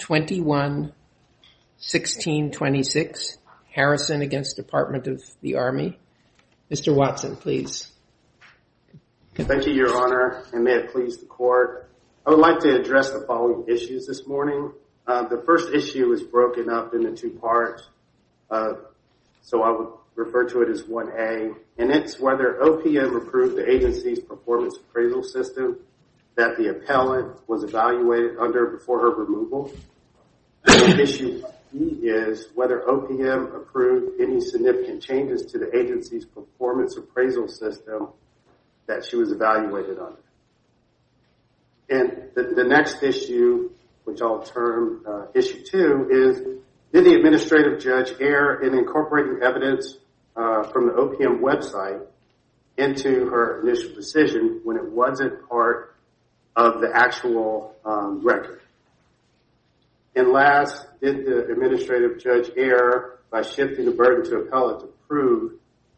21-1626, Harrison against Department of the Army. Mr. Watson, please. Thank you, Your Honor, and may it please the Court. I would like to address the following issues this morning. The first issue is broken up into two parts, so I would refer to it as 1A, and it's whether OPM approved the agency's performance appraisal system that the appellant was evaluated under before her removal. The second issue is whether OPM approved any significant changes to the agency's performance appraisal system that she was evaluated under. And the next issue, which I'll term issue two, is did the administrative judge err in incorporating evidence from the OPM website into her initial decision when it wasn't part of the actual record? And last, did the administrative judge err by shifting the burden to appellant to prove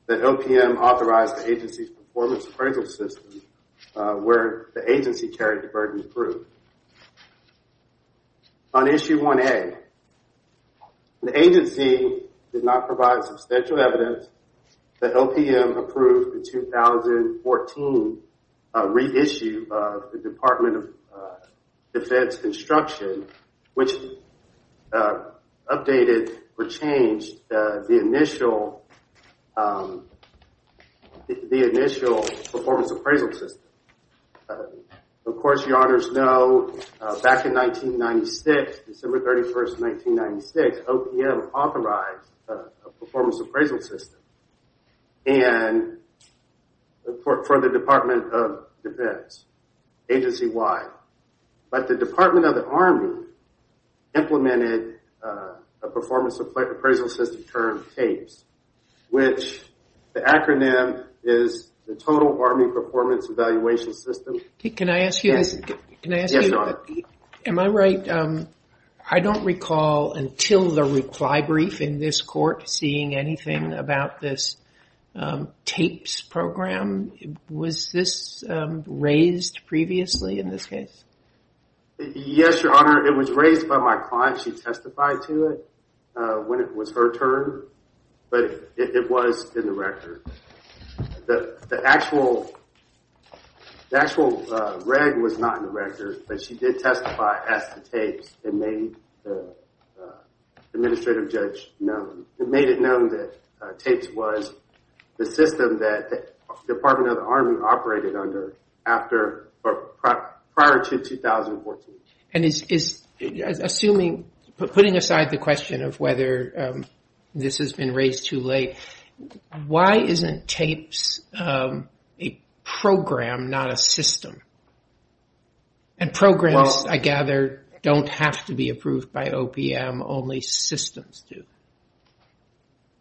that OPM authorized the agency's performance appraisal system where the agency carried the burden through? On issue 1A, the agency did not provide substantial evidence that OPM approved the 2014 reissue of the Department of Defense construction, which updated or changed the initial performance appraisal system. Of course, Your Honors know, back in 1996, December 31st, 1996, OPM authorized a performance appraisal system for the Department of Defense, agency-wide. But the Department of the Army implemented a performance appraisal system term, TAPES, which the acronym is the Total Army Performance Evaluation System. Can I ask you, am I right? I don't recall until the reply brief in this court seeing anything about this TAPES program. Was this raised previously in this case? Yes, Your Honor. It was raised by my client. She testified to it when it was her turn, but it was in the record. The actual reg was not in the record, but she did testify as to TAPES and made the administrative judge known. It made it known that TAPES was the system that the Department of the Army operated under prior to 2014. And is assuming, putting aside the question of whether this has been raised too late, why isn't TAPES a program, not a system? And programs, I gather, don't have to be approved by OPM. Only systems do.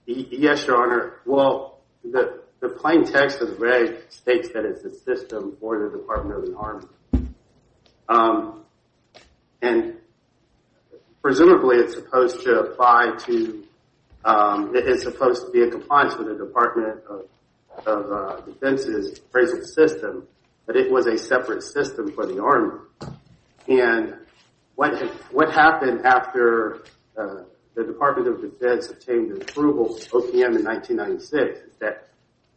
Yes, Your Honor. Well, the plain text of the reg states that it's a system for the Department of the Army. And presumably, it's supposed to apply to, it's supposed to be a compliance with the Department of Defense's present system, but it was a separate system for the Army. And what happened after the Department of Defense obtained approval from OPM in 1996, that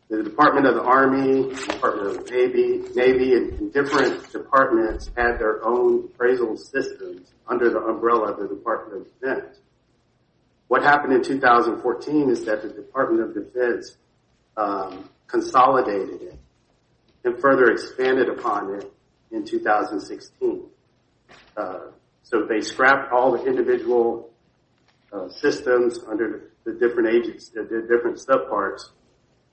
the Department of the Army, Department of the Navy, and different departments had their own appraisal systems under the umbrella of the Department of Defense. What happened in 2014 is that the Department of Defense consolidated it and further expanded upon it in 2016. And so they scrapped all the individual systems under the different subparts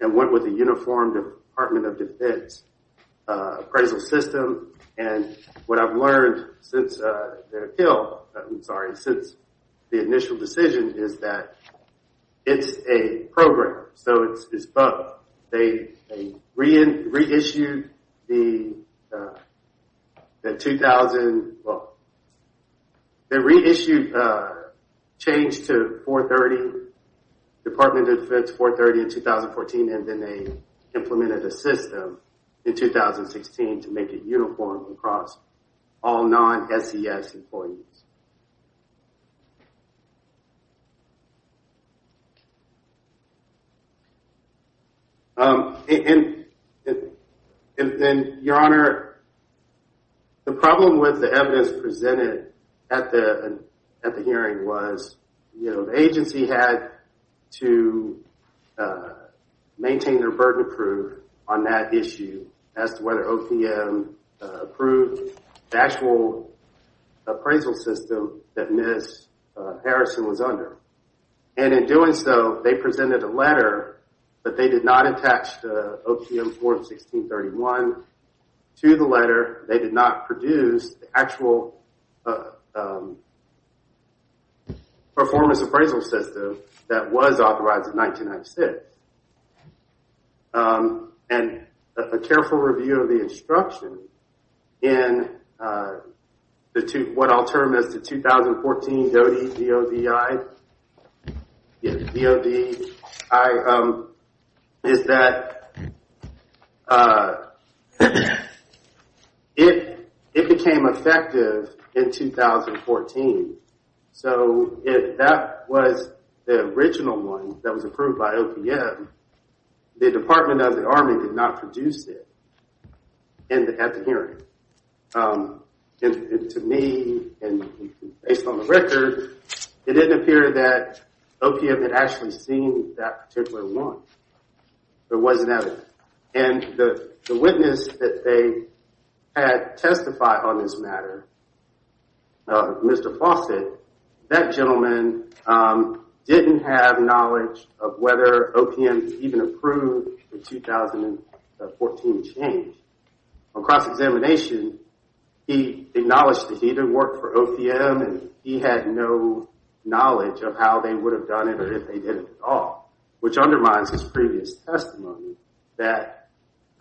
and went with a uniformed Department of Defense appraisal system. And what I've learned since the initial decision is that it's a program, so it's both. They reissued the 2000, well, they reissued a change to 430, Department of Defense 430 in 2014, and then they implemented a system in 2016 to make it uniform across all non-SES employees. And Your Honor, the problem with the evidence presented at the hearing was, you know, the agency had to maintain their burden approved on that issue as to whether OPM approved the actual appraisal system that Ms. Harrison was under. And in doing so, they presented a letter, but they did not attach the OPM form 1631 to the letter. They did not produce the actual performance appraisal system that was authorized in 1996. And a careful review of the instruction in what I'll term as the 2014 DOE, D-O-V-I, is that it became effective in 2014. So if that was the original one that was approved by OPM, the Department of the Army did not produce it at the hearing. To me, and based on the record, it didn't appear that OPM had actually seen that particular one. There wasn't evidence. And the witness that they had testified on this matter, Mr. Fawcett, that gentleman didn't have knowledge of whether OPM even approved the 2014 change. On cross-examination, he acknowledged that he didn't work for OPM and he had no knowledge of how they would have done it or if they did it at all, which undermines his previous testimony that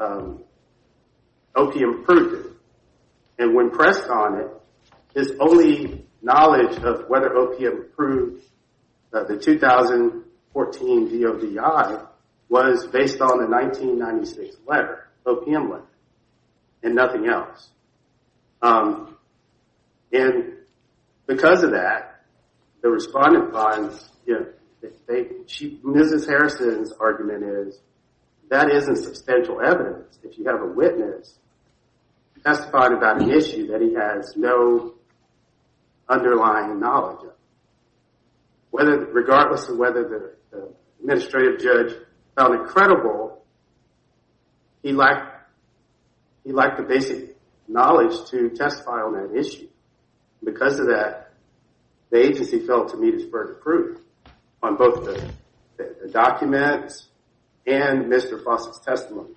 OPM approved it. And when pressed on it, his only knowledge of whether OPM approved the 2014 DOE was based on the 1996 letter, OPM letter, and nothing else. And because of that, the respondent finds, Mrs. Harrison's argument is, that isn't substantial evidence. If you have a witness testifying about an issue that he has no underlying knowledge of, regardless of whether the administrative judge found it credible, he lacked the basic knowledge to testify on that issue. Because of that, the agency failed to meet its further proof on both the documents and Mr. Fawcett's testimony.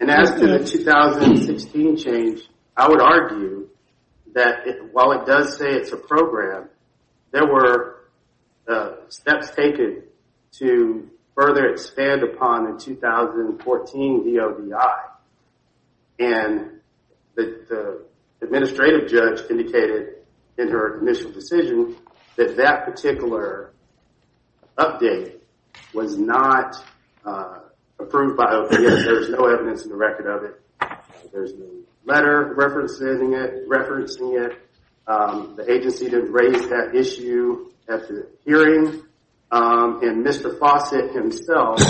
And as to the 2016 change, I would argue that while it does say it's a program, there were steps taken to further expand upon the 2014 DODI. And the administrative judge indicated in her initial decision that that particular update was not approved by OPM. There's no evidence in the record of it. There's no letter referencing it. The agency did raise that issue at the hearing. And Mr. Fawcett himself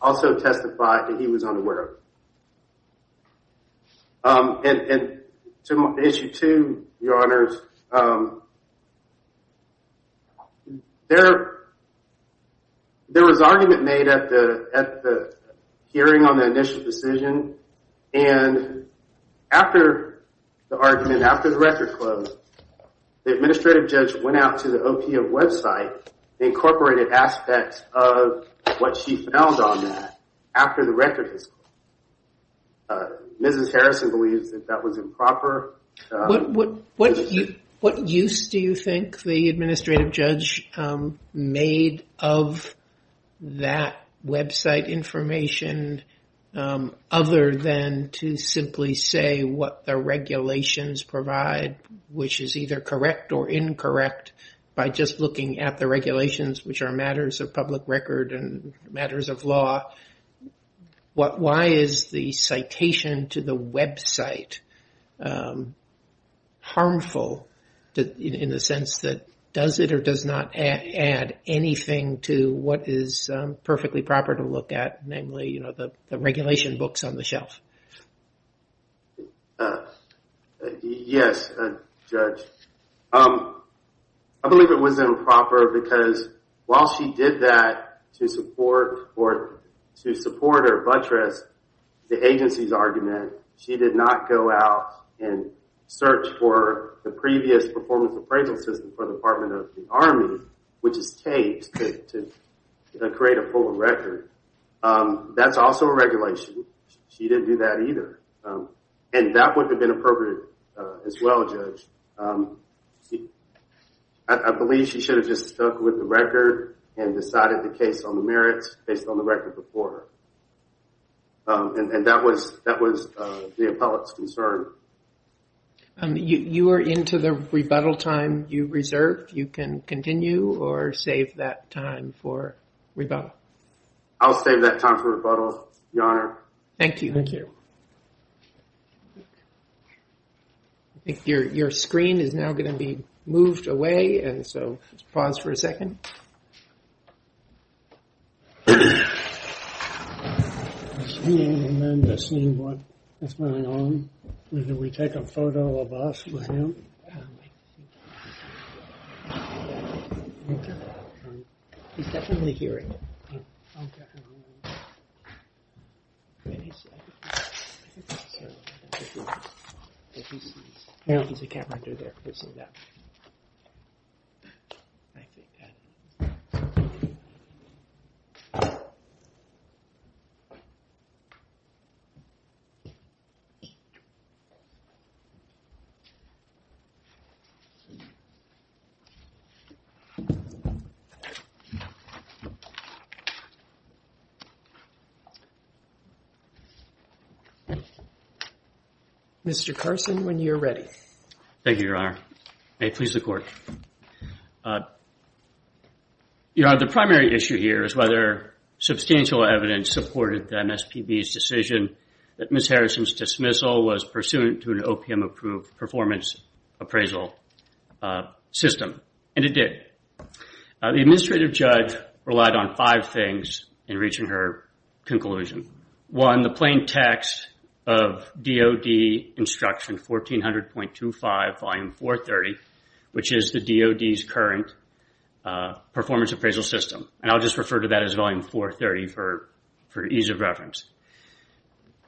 also testified that he was unaware. And to issue two, your honors, there was argument made at the hearing on the initial decision. And after the argument, after the record closed, the administrative judge went out to the OPM website, incorporated aspects of what she found on that after the record was closed. Mrs. Harrison believes that that was improper. What use do you think the administrative judge made of that website information other than to simply say what the regulations provide, which is either correct or incorrect, by just looking at the regulations, which are matters of public record and matters of law? Why is the citation to the website harmful in the sense that does it or does not add anything to what is perfectly proper to look at, namely the regulation books on the shelf? Yes, Judge. I believe it was improper because while she did that to support or to support or buttress the agency's argument, she did not go out and search for the previous performance appraisal system for the Department of the Army, which is taped to create a full record. That's also a regulation. She didn't do that either. And that would have been appropriate as well, Judge. I believe she should have just stuck with the record and decided the case on the merits based on the record before her. And that was the appellate's concern. You are into the rebuttal time you reserved. You can continue or save that time for rebuttal. I'll save that time for rebuttal, Your Honor. Thank you. I think your screen is now going to be moved away, and so pause for a second. And then to see what is going on, can we take a photo of us with him? Okay. Mr. Carson, when you're ready. Thank you, Your Honor. May it please the Court. Your Honor, the primary issue here is whether substantial evidence supported MSPB's decision that Ms. Harrison's dismissal was pursuant to an OPM-approved performance appraisal system. And it did. The administrative judge relied on five things in reaching her conclusion. One, plain text of DOD instruction 1400.25, Volume 430, which is the DOD's current performance appraisal system. And I'll just refer to that as Volume 430 for ease of reference.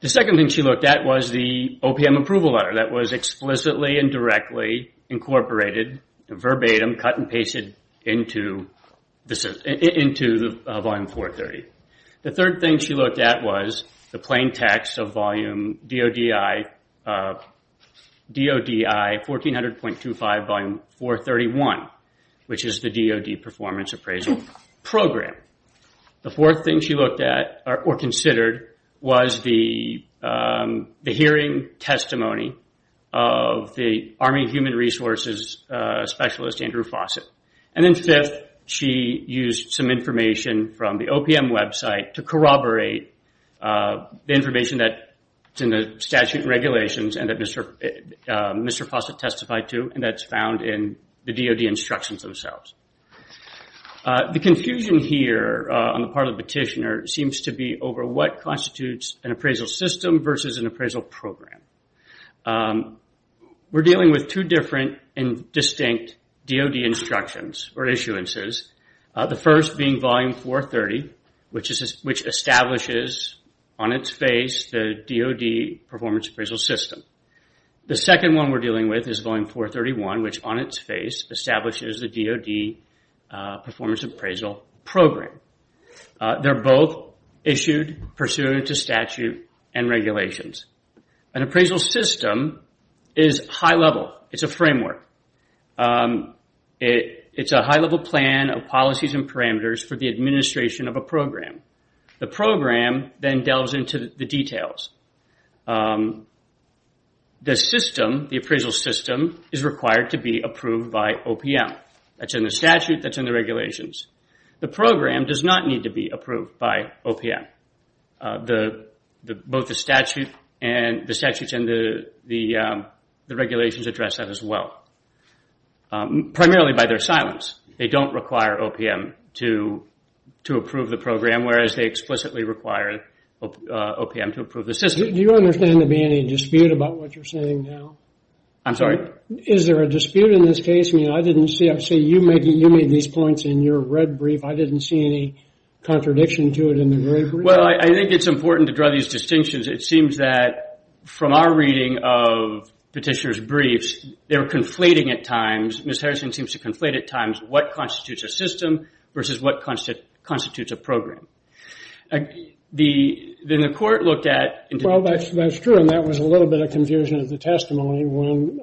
The second thing she looked at was the OPM approval letter that was explicitly and directly incorporated verbatim, cut and pasted into Volume 430. The third thing she looked at was the plain text of DODI 1400.25, Volume 431, which is the DOD performance appraisal program. The fourth thing she looked at, or considered, was the hearing testimony of the Army Human Resources Specialist, Andrew Fawcett. And then fifth, she used some information from the OPM website to corroborate the information that's in the statute and regulations that Mr. Fawcett testified to, and that's found in the DOD instructions themselves. The confusion here on the part of the petitioner seems to be over what constitutes an appraisal system versus an appraisal program. We're dealing with two different and distinct DOD instructions, or issuances. The first being Volume 430, which establishes on its face the DOD performance appraisal system. The second one we're dealing with is Volume 431, which on its face establishes the DOD performance appraisal program. They're both issued pursuant to statute and regulations. An appraisal system is high-level. It's a framework. It's a high-level plan of policies and parameters for the administration of a program. The program then delves into the details. The system, the appraisal system, is required to be approved by OPM. That's in the statute, that's in the regulations. The program does not need to be approved by OPM. Both the statutes and the regulations address that as well. Primarily by their silence, they don't require OPM to approve the program, whereas they explicitly require OPM to approve the system. Do you understand to be any dispute about what you're saying now? I'm sorry? Is there a dispute in this case? I mean, I didn't see, I see you made these points in your red brief. I didn't see any contradiction to it in the red brief. Well, I think it's important to draw these distinctions. It seems that from our reading of Petitioner's briefs, they're conflating at times. Ms. Harrison seems to conflate at times what constitutes a system versus what constitutes a program. Then the court looked at... Well, that's true, and that was a little bit of confusion of the testimony when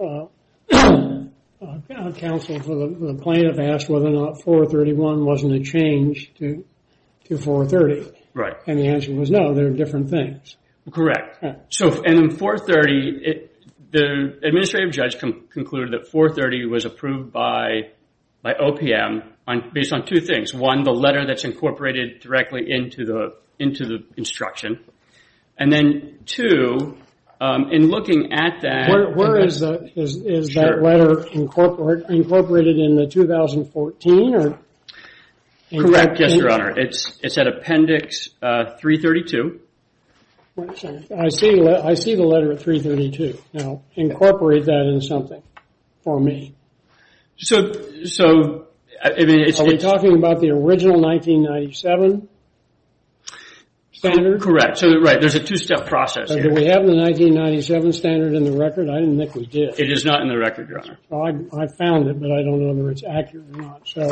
counsel for the plaintiff asked whether or not 431 wasn't a change to 430. And the answer was, no, they're different things. Correct. So in 430, the administrative judge concluded that 430 was approved by OPM based on two things. One, the letter that's incorporated directly into the instruction. And then two, in looking at that... Where is that letter incorporated in the 2014? Correct, yes, your honor. It's at Appendix 332. I see the letter at 332. Now, incorporate that for me. So, are we talking about the original 1997 standard? Correct. So, right, there's a two-step process. Do we have the 1997 standard in the record? I didn't think we did. It is not in the record, your honor. I found it, but I don't know whether it's accurate or not. So,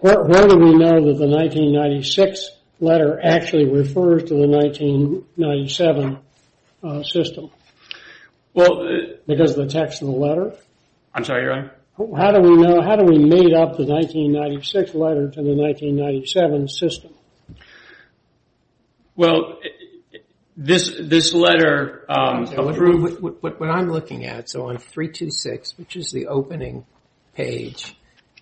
where do we know that the 1996 letter actually refers to the 1997 system? Because of the text of the letter? I'm sorry, your honor? How do we know, how do we made up the 1996 letter to the 1997 system? Well, this letter... What I'm looking at, so on 326, which is the opening page,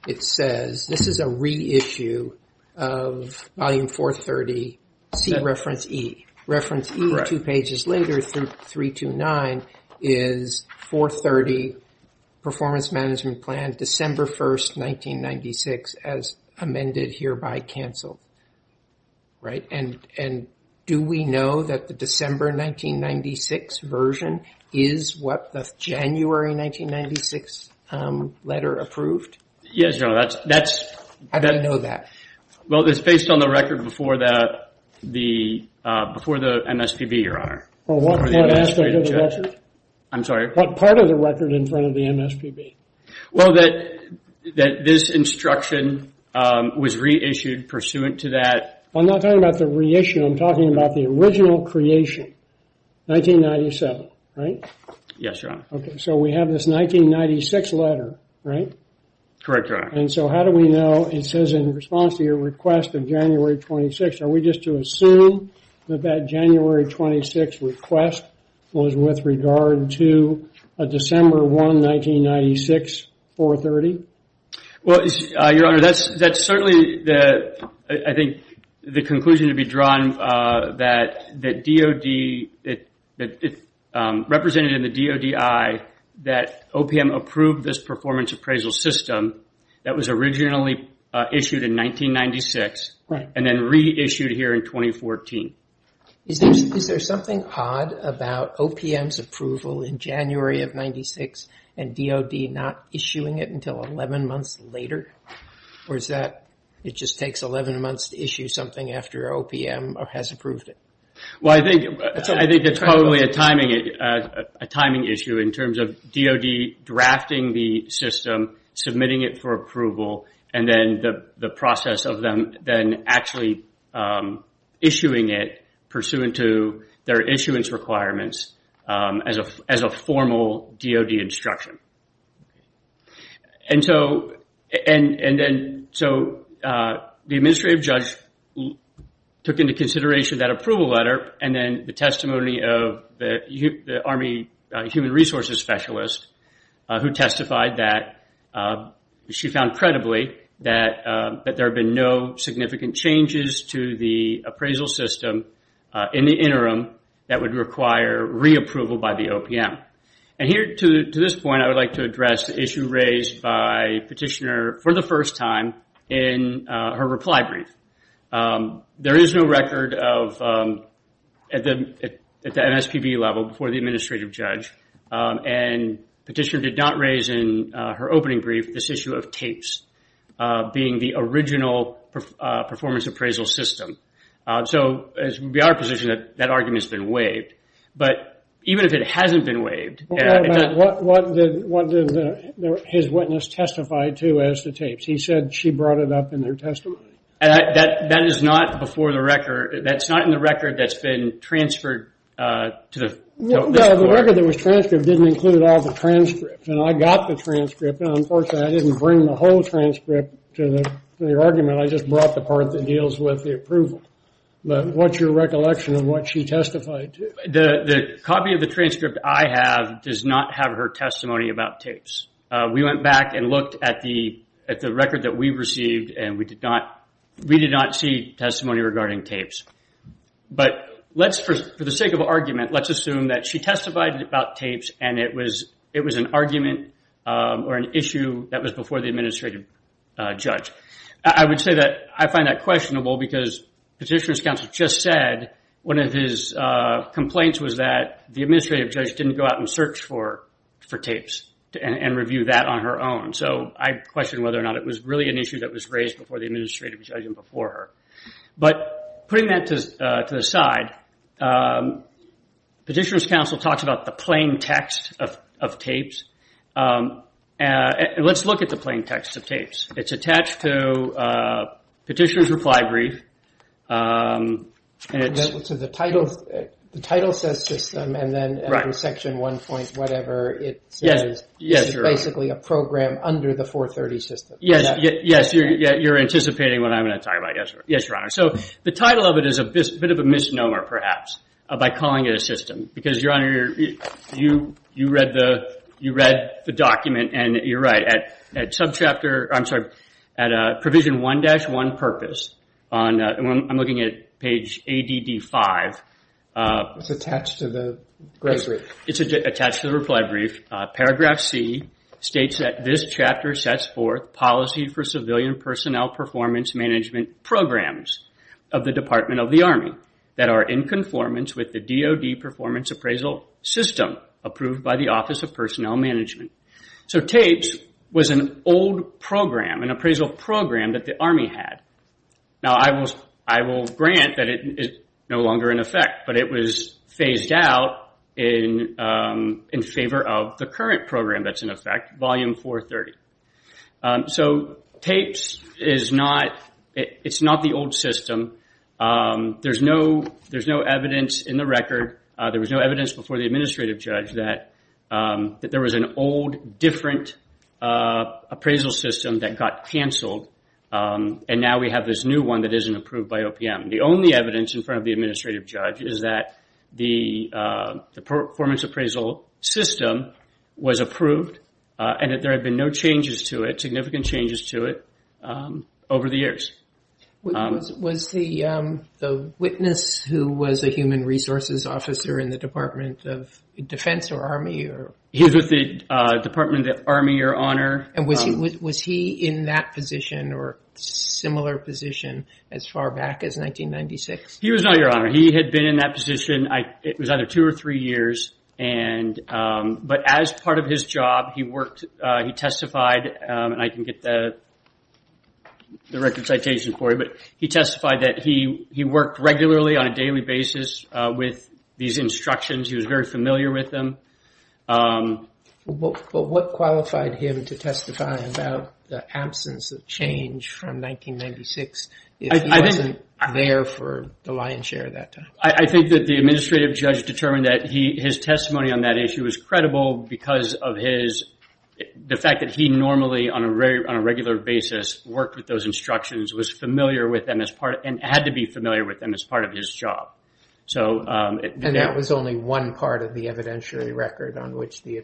it says... This is a reissue of Volume 430, C Reference E. Reference E, two pages later, 329, is 430, Performance Management Plan, December 1st, 1996, as amended, hereby canceled. Right? And do we know that the December 1996 version is what the January 1996 letter approved? Yes, your honor, that's... How do you know that? Well, it's based on the record before the MSPB, your honor. What part of the record in front of the MSPB? Well, that this instruction was reissued pursuant to that... I'm not talking about the reissue, I'm talking about the original creation, 1997, right? Yes, your honor. Okay, so we have this 1996 letter, right? Correct, your honor. And so how do we know, it says in response to your request of January 26, are we just to assume that that January 26 request was with regard to a December 1, 1996, 430? Well, your honor, that's certainly, I think, the conclusion to be drawn that represented in the DODI that OPM approved this performance appraisal system that was originally issued in 1996 and then reissued here in 2014. Is there something odd about OPM's January of 1996 and DOD not issuing it until 11 months later? Or is that it just takes 11 months to issue something after OPM has approved it? Well, I think it's probably a timing issue in terms of DOD drafting the system, submitting it for approval, and then the process of them actually issuing it pursuant to their issuance requirements as a formal DOD instruction. And so the administrative judge took into consideration that approval letter and then the testimony of the Army Human Resources Specialist who testified that she found credibly that there have been no significant changes to the appraisal system in the interim that would require reapproval by the OPM. And here, to this point, I would like to address the issue raised by Petitioner for the first time in her reply brief. There is no record of, at the MSPB level, before the administrative judge, and Petitioner did not raise in her opening brief this issue of tapes being the original performance appraisal system. So it would be our position that that argument has been waived. But even if it hasn't been waived, what did his witness testify to as to tapes? He said she brought it up in their testimony. That is not before the record. That's not in the record that's been transferred to the court. The record that was transcribed didn't include all the transcripts. And I got the transcript, and unfortunately I didn't bring the whole transcript to the argument. I just brought the part that deals with the approval. But what's your recollection of what she testified to? The copy of the transcript I have does not have her testimony about tapes. We went back and looked at the record that we received, and we did not see testimony regarding tapes. But for the sake of argument, let's assume that she testified about tapes and it was an argument or an issue that was before the administrative judge. I would say that I find that questionable because Petitioner's counsel just said one of his complaints was that the administrative judge didn't go out and search for tapes and review that on her own. So I question whether or not it was really an issue that was raised before the administrative judge and before her. But putting that to the side, Petitioner's counsel talks about the plain text of tapes. Let's look at the plain text of tapes. It's attached to Petitioner's reply brief. The title says system, and then under section 1. whatever, it says it's basically a program under the 430 system. Yes, you're anticipating what I'm going to talk about. Yes, Your Honor. So the title of it is a bit of a misnomer, perhaps, by calling it a system. Because, Your Honor, you read the document, and you're right. At provision 1-1 purpose, I'm looking at page ADD 5. It's attached to the reply brief. It's attached to the reply brief. Paragraph C states that this chapter sets forth policy for civilian personnel performance management programs of the Department of the Army that are in conformance with the DOD performance appraisal system approved by the Office of Personnel Management. So tapes was an old program, an appraisal program that the Army had. Now I will grant that it is no longer in effect, but it was phased out in favor of the current program that's in effect, Volume 430. So tapes is not the old system. There's no evidence in the record. There was no evidence before the administrative judge that there was an old, different appraisal system that got canceled, and now we have this new one that isn't approved by OPM. The only evidence in front of the record is that the performance appraisal system was approved and that there had been no changes to it, significant changes to it, over the years. Was the witness who was a human resources officer in the Department of Defense or Army? He was with the Department of the Army, Your Honor. And was he in that position or similar position as far back as 1996? He was not, Your Honor. He had been in that position, it was either two or three years, but as part of his job, he worked, he testified, and I can get the record citation for you, but he testified that he worked regularly on a daily basis with these instructions. He was very familiar with them. But what qualified him to testify about the absence of change from 1996 if he wasn't there for the lion's share of that time? I think that the administrative judge determined that his testimony on that issue was credible because of the fact that he normally, on a regular basis, worked with those instructions, was familiar with them, and had to be familiar with them as part of his job. And that was only one part of the evidentiary record on which the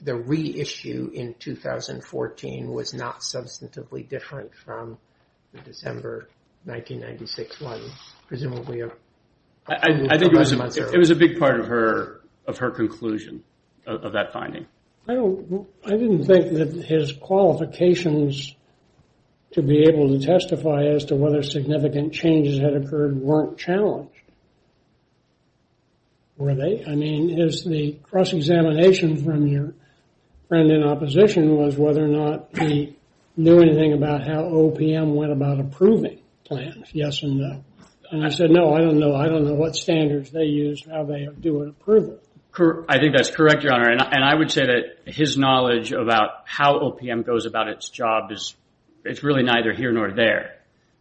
the reissue in 2014 was not substantively different from the December 1996 one. It was a big part of her conclusion of that finding. I didn't think that his qualifications to be able to testify as to whether significant changes had occurred weren't challenged. Were they? I mean, it's the cross-examination from your friend in opposition was whether or not he knew anything about how OPM went about approving plans. Yes and no. And I said, no, I don't know. I don't know what standards they use, how they do an approval. I think that's correct, your honor, and I would say that his knowledge about how OPM goes about its job is, it's really neither here nor there.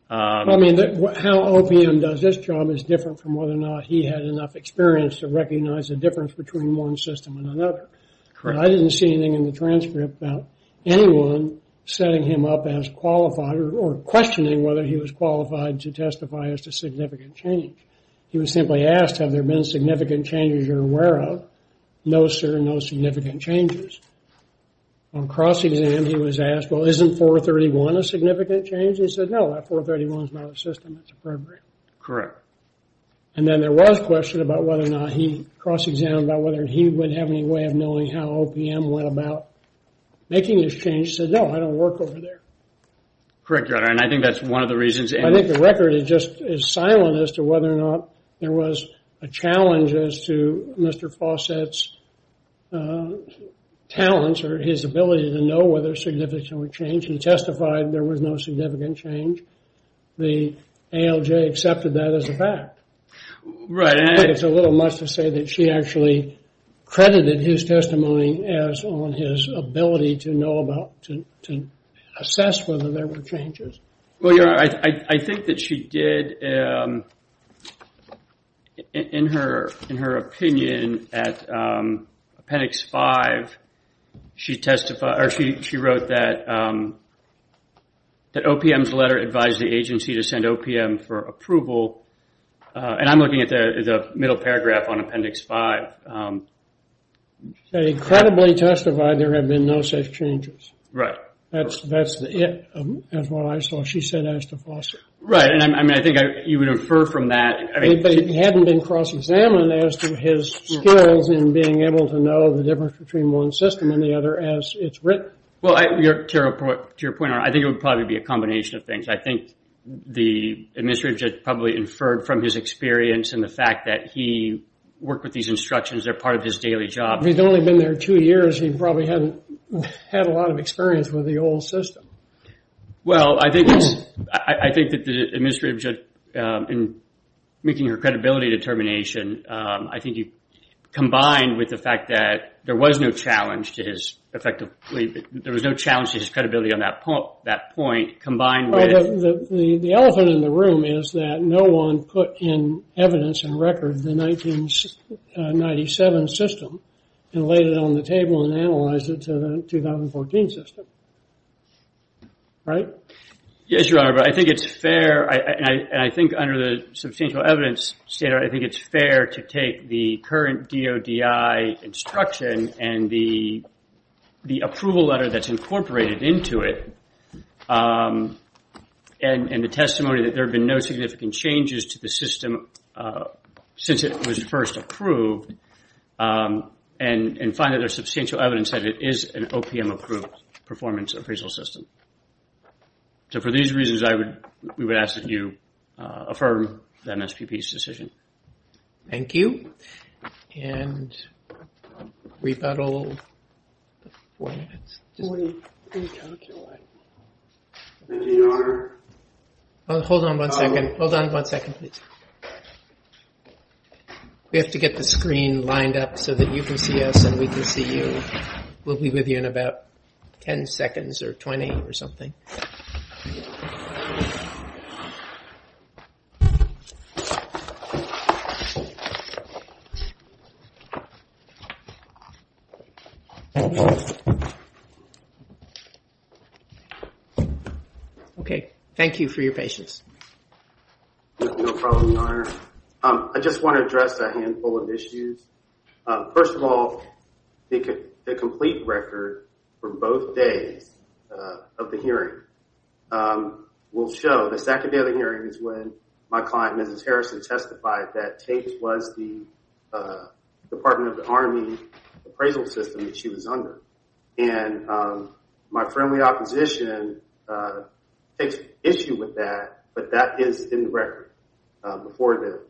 I mean, how OPM does this job is different from whether or not he had enough experience to recognize the difference between one system and another. Correct. I didn't see anything in the transcript about anyone setting him up as qualified or questioning whether he was qualified to testify as to significant change. He was simply asked, have there been significant changes you're aware of? No, sir, no significant changes. On cross-exam, he was asked, well, isn't 431 a significant change? He said, no, that 431 is not a system that's appropriate. Correct. And then there was a question about whether or not he cross-examined about whether he would have any way of knowing how OPM went about making this change. He said, no, I don't work over there. Correct, your honor, and I think that's one of the reasons. I think the record is just is silent as to whether or not there was a challenge as to Mr. Fawcett's talents or his ability to know whether significant change. He testified there was no significant change. The ALJ accepted that as a fact. Right. It's a little much to say that she actually credited his testimony as on his ability to know about, to assess whether there were changes. Well, your honor, I think that she did in her opinion at Appendix 5, she testified or she wrote that OPM's letter advised the agency to send OPM for approval. And I'm looking at the middle paragraph on Appendix 5. They incredibly testified there have been no such changes. Right. That's what I saw. She said as to Fawcett. Right. And I mean, I think you would infer from that. But it hadn't been cross-examined as to his skills in being able to know the difference between one system and the other as it's written. Well, to your point, I think it would probably be a combination of things. I think the administrator probably inferred from his experience and the fact that he worked with these instructions. They're part of his daily job. He'd only been there two years. He probably hadn't had a lot of experience with the old system. Well, I think that the administrator in making her credibility determination, I think he combined with the fact that there was no challenge to his credibility on that point combined with... The elephant in the room is that no one put in evidence and record the 1997 system and laid it on the table and analyzed it to the 2014 system. Right? Yes, Your Honor. But I think it's fair. And I think under the substantial evidence standard, I think it's fair to take the and the testimony that there have been no significant changes to the system since it was first approved and find that there's substantial evidence that it is an OPM-approved performance appraisal system. So, for these reasons, we would ask that you affirm the MSPP's order. Hold on one second. Hold on one second, please. We have to get the screen lined up so that you can see us and we can see you. We'll be with you in about 10 seconds or 20 or something. Okay. Thank you for your patience. No problem, Your Honor. I just want to address a handful of issues. First of all, the complete record for both days of the hearing will show the second day of the hearing is when my client, Mrs. Harrison, testified that Tate was the department of the takes issue with that, but that is in the record before the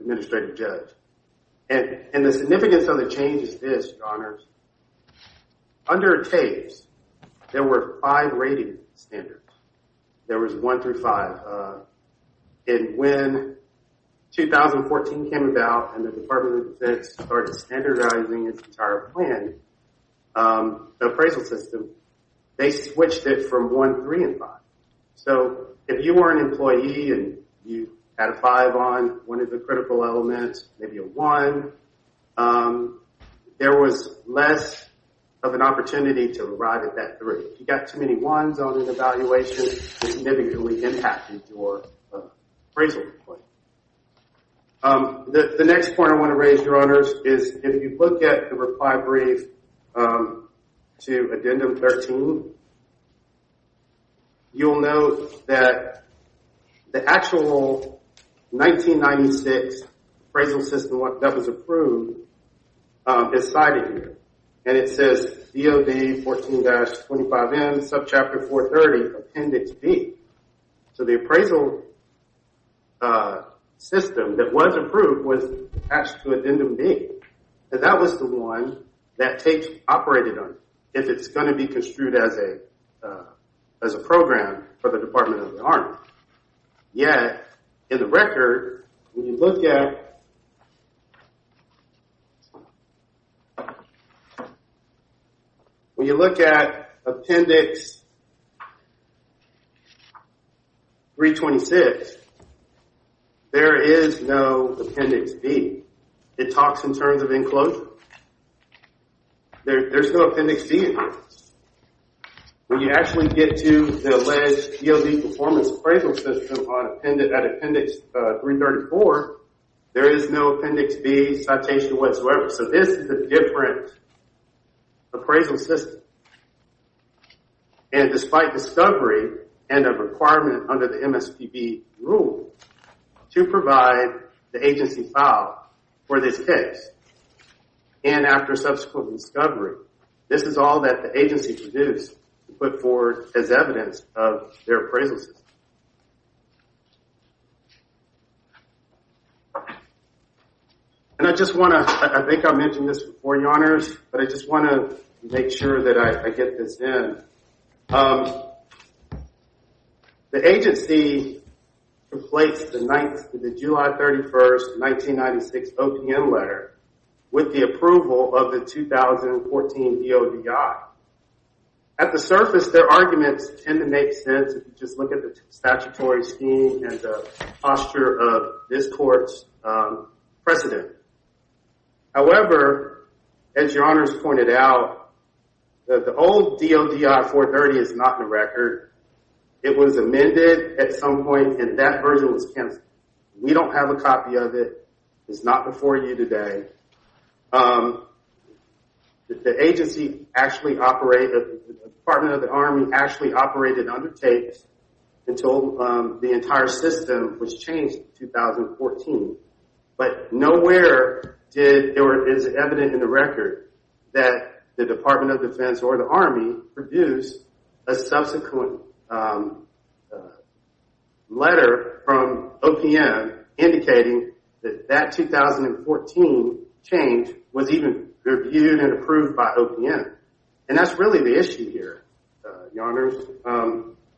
administrative judge. And the significance of the change is this, Your Honor. Under Tate's, there were five rating standards. There was one through five. And when 2014 came about and the Department of Defense started standardizing its entire plan, the appraisal system, they switched it from one, three, and five. So, if you were an employee and you had a five on one of the critical elements, maybe a one, there was less of an opportunity to arrive at that three. If you got too many ones on an evaluation, it significantly impacted your appraisal. The next point I want to raise, is if you look at the reply brief to Addendum 13, you'll note that the actual 1996 appraisal system that was approved is cited here. And it says DOD 14-25M, Subchapter 430, Appendix B. So, the appraisal system that was approved was attached to Addendum B. And that was the one that Tate operated on, if it's going to be construed as a program for Department of the Army. Yet, in the record, when you look at, when you look at Appendix 326, there is no Appendix B. It talks in terms of enclosure. There's no Appendix B in there. When you actually get to the alleged DOD performance appraisal system at Appendix 334, there is no Appendix B citation whatsoever. So, this is a different appraisal system. And despite discovery and a requirement under the MSPB rule to provide the agency file for this case, and after subsequent discovery, this is all that the agency produced to put forward as evidence of their appraisal system. And I just want to, I think I mentioned this before, Your Honors, but I just want to make sure that I get this in. The agency completes the July 31st, 1996 OPM letter with the approval of the 2014 DODI. At the surface, their arguments tend to make sense if you just look at the statutory scheme and the posture of this court's precedent. However, as Your Honors pointed out, the old DODI 430 is not in the record. It was amended at some point, and that version was canceled. We don't have a copy of it. It's not before you today. The agency actually operated, the Department of the Army actually operated under tapes until the entire system was changed in 2014. But nowhere is evident in the record that the Department of Defense or the Army produced a subsequent letter from OPM indicating that that 2014 change was even reviewed and approved by OPM. And that's really the issue here, Your Honors.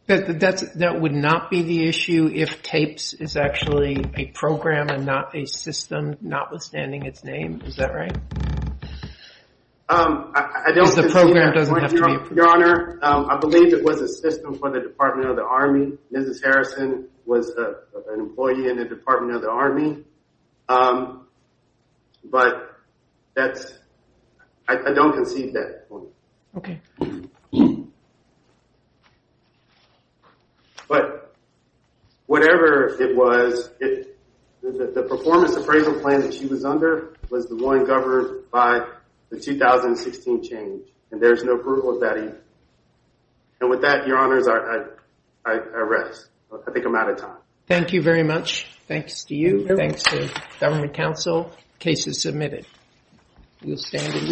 That would not be the issue if tapes is actually a program and not a system, notwithstanding its name. Is that right? Your Honor, I believe it was a system for the Department of the Army. Mrs. Harrison was an Okay. But whatever it was, the performance appraisal plan that she was under was the one governed by the 2016 change, and there's no approval of that either. And with that, Your Honors, I rest. I think I'm out of time. Thank you very much. Thanks to you. Thanks to Government Council. Case is submitted. We'll stand in recess.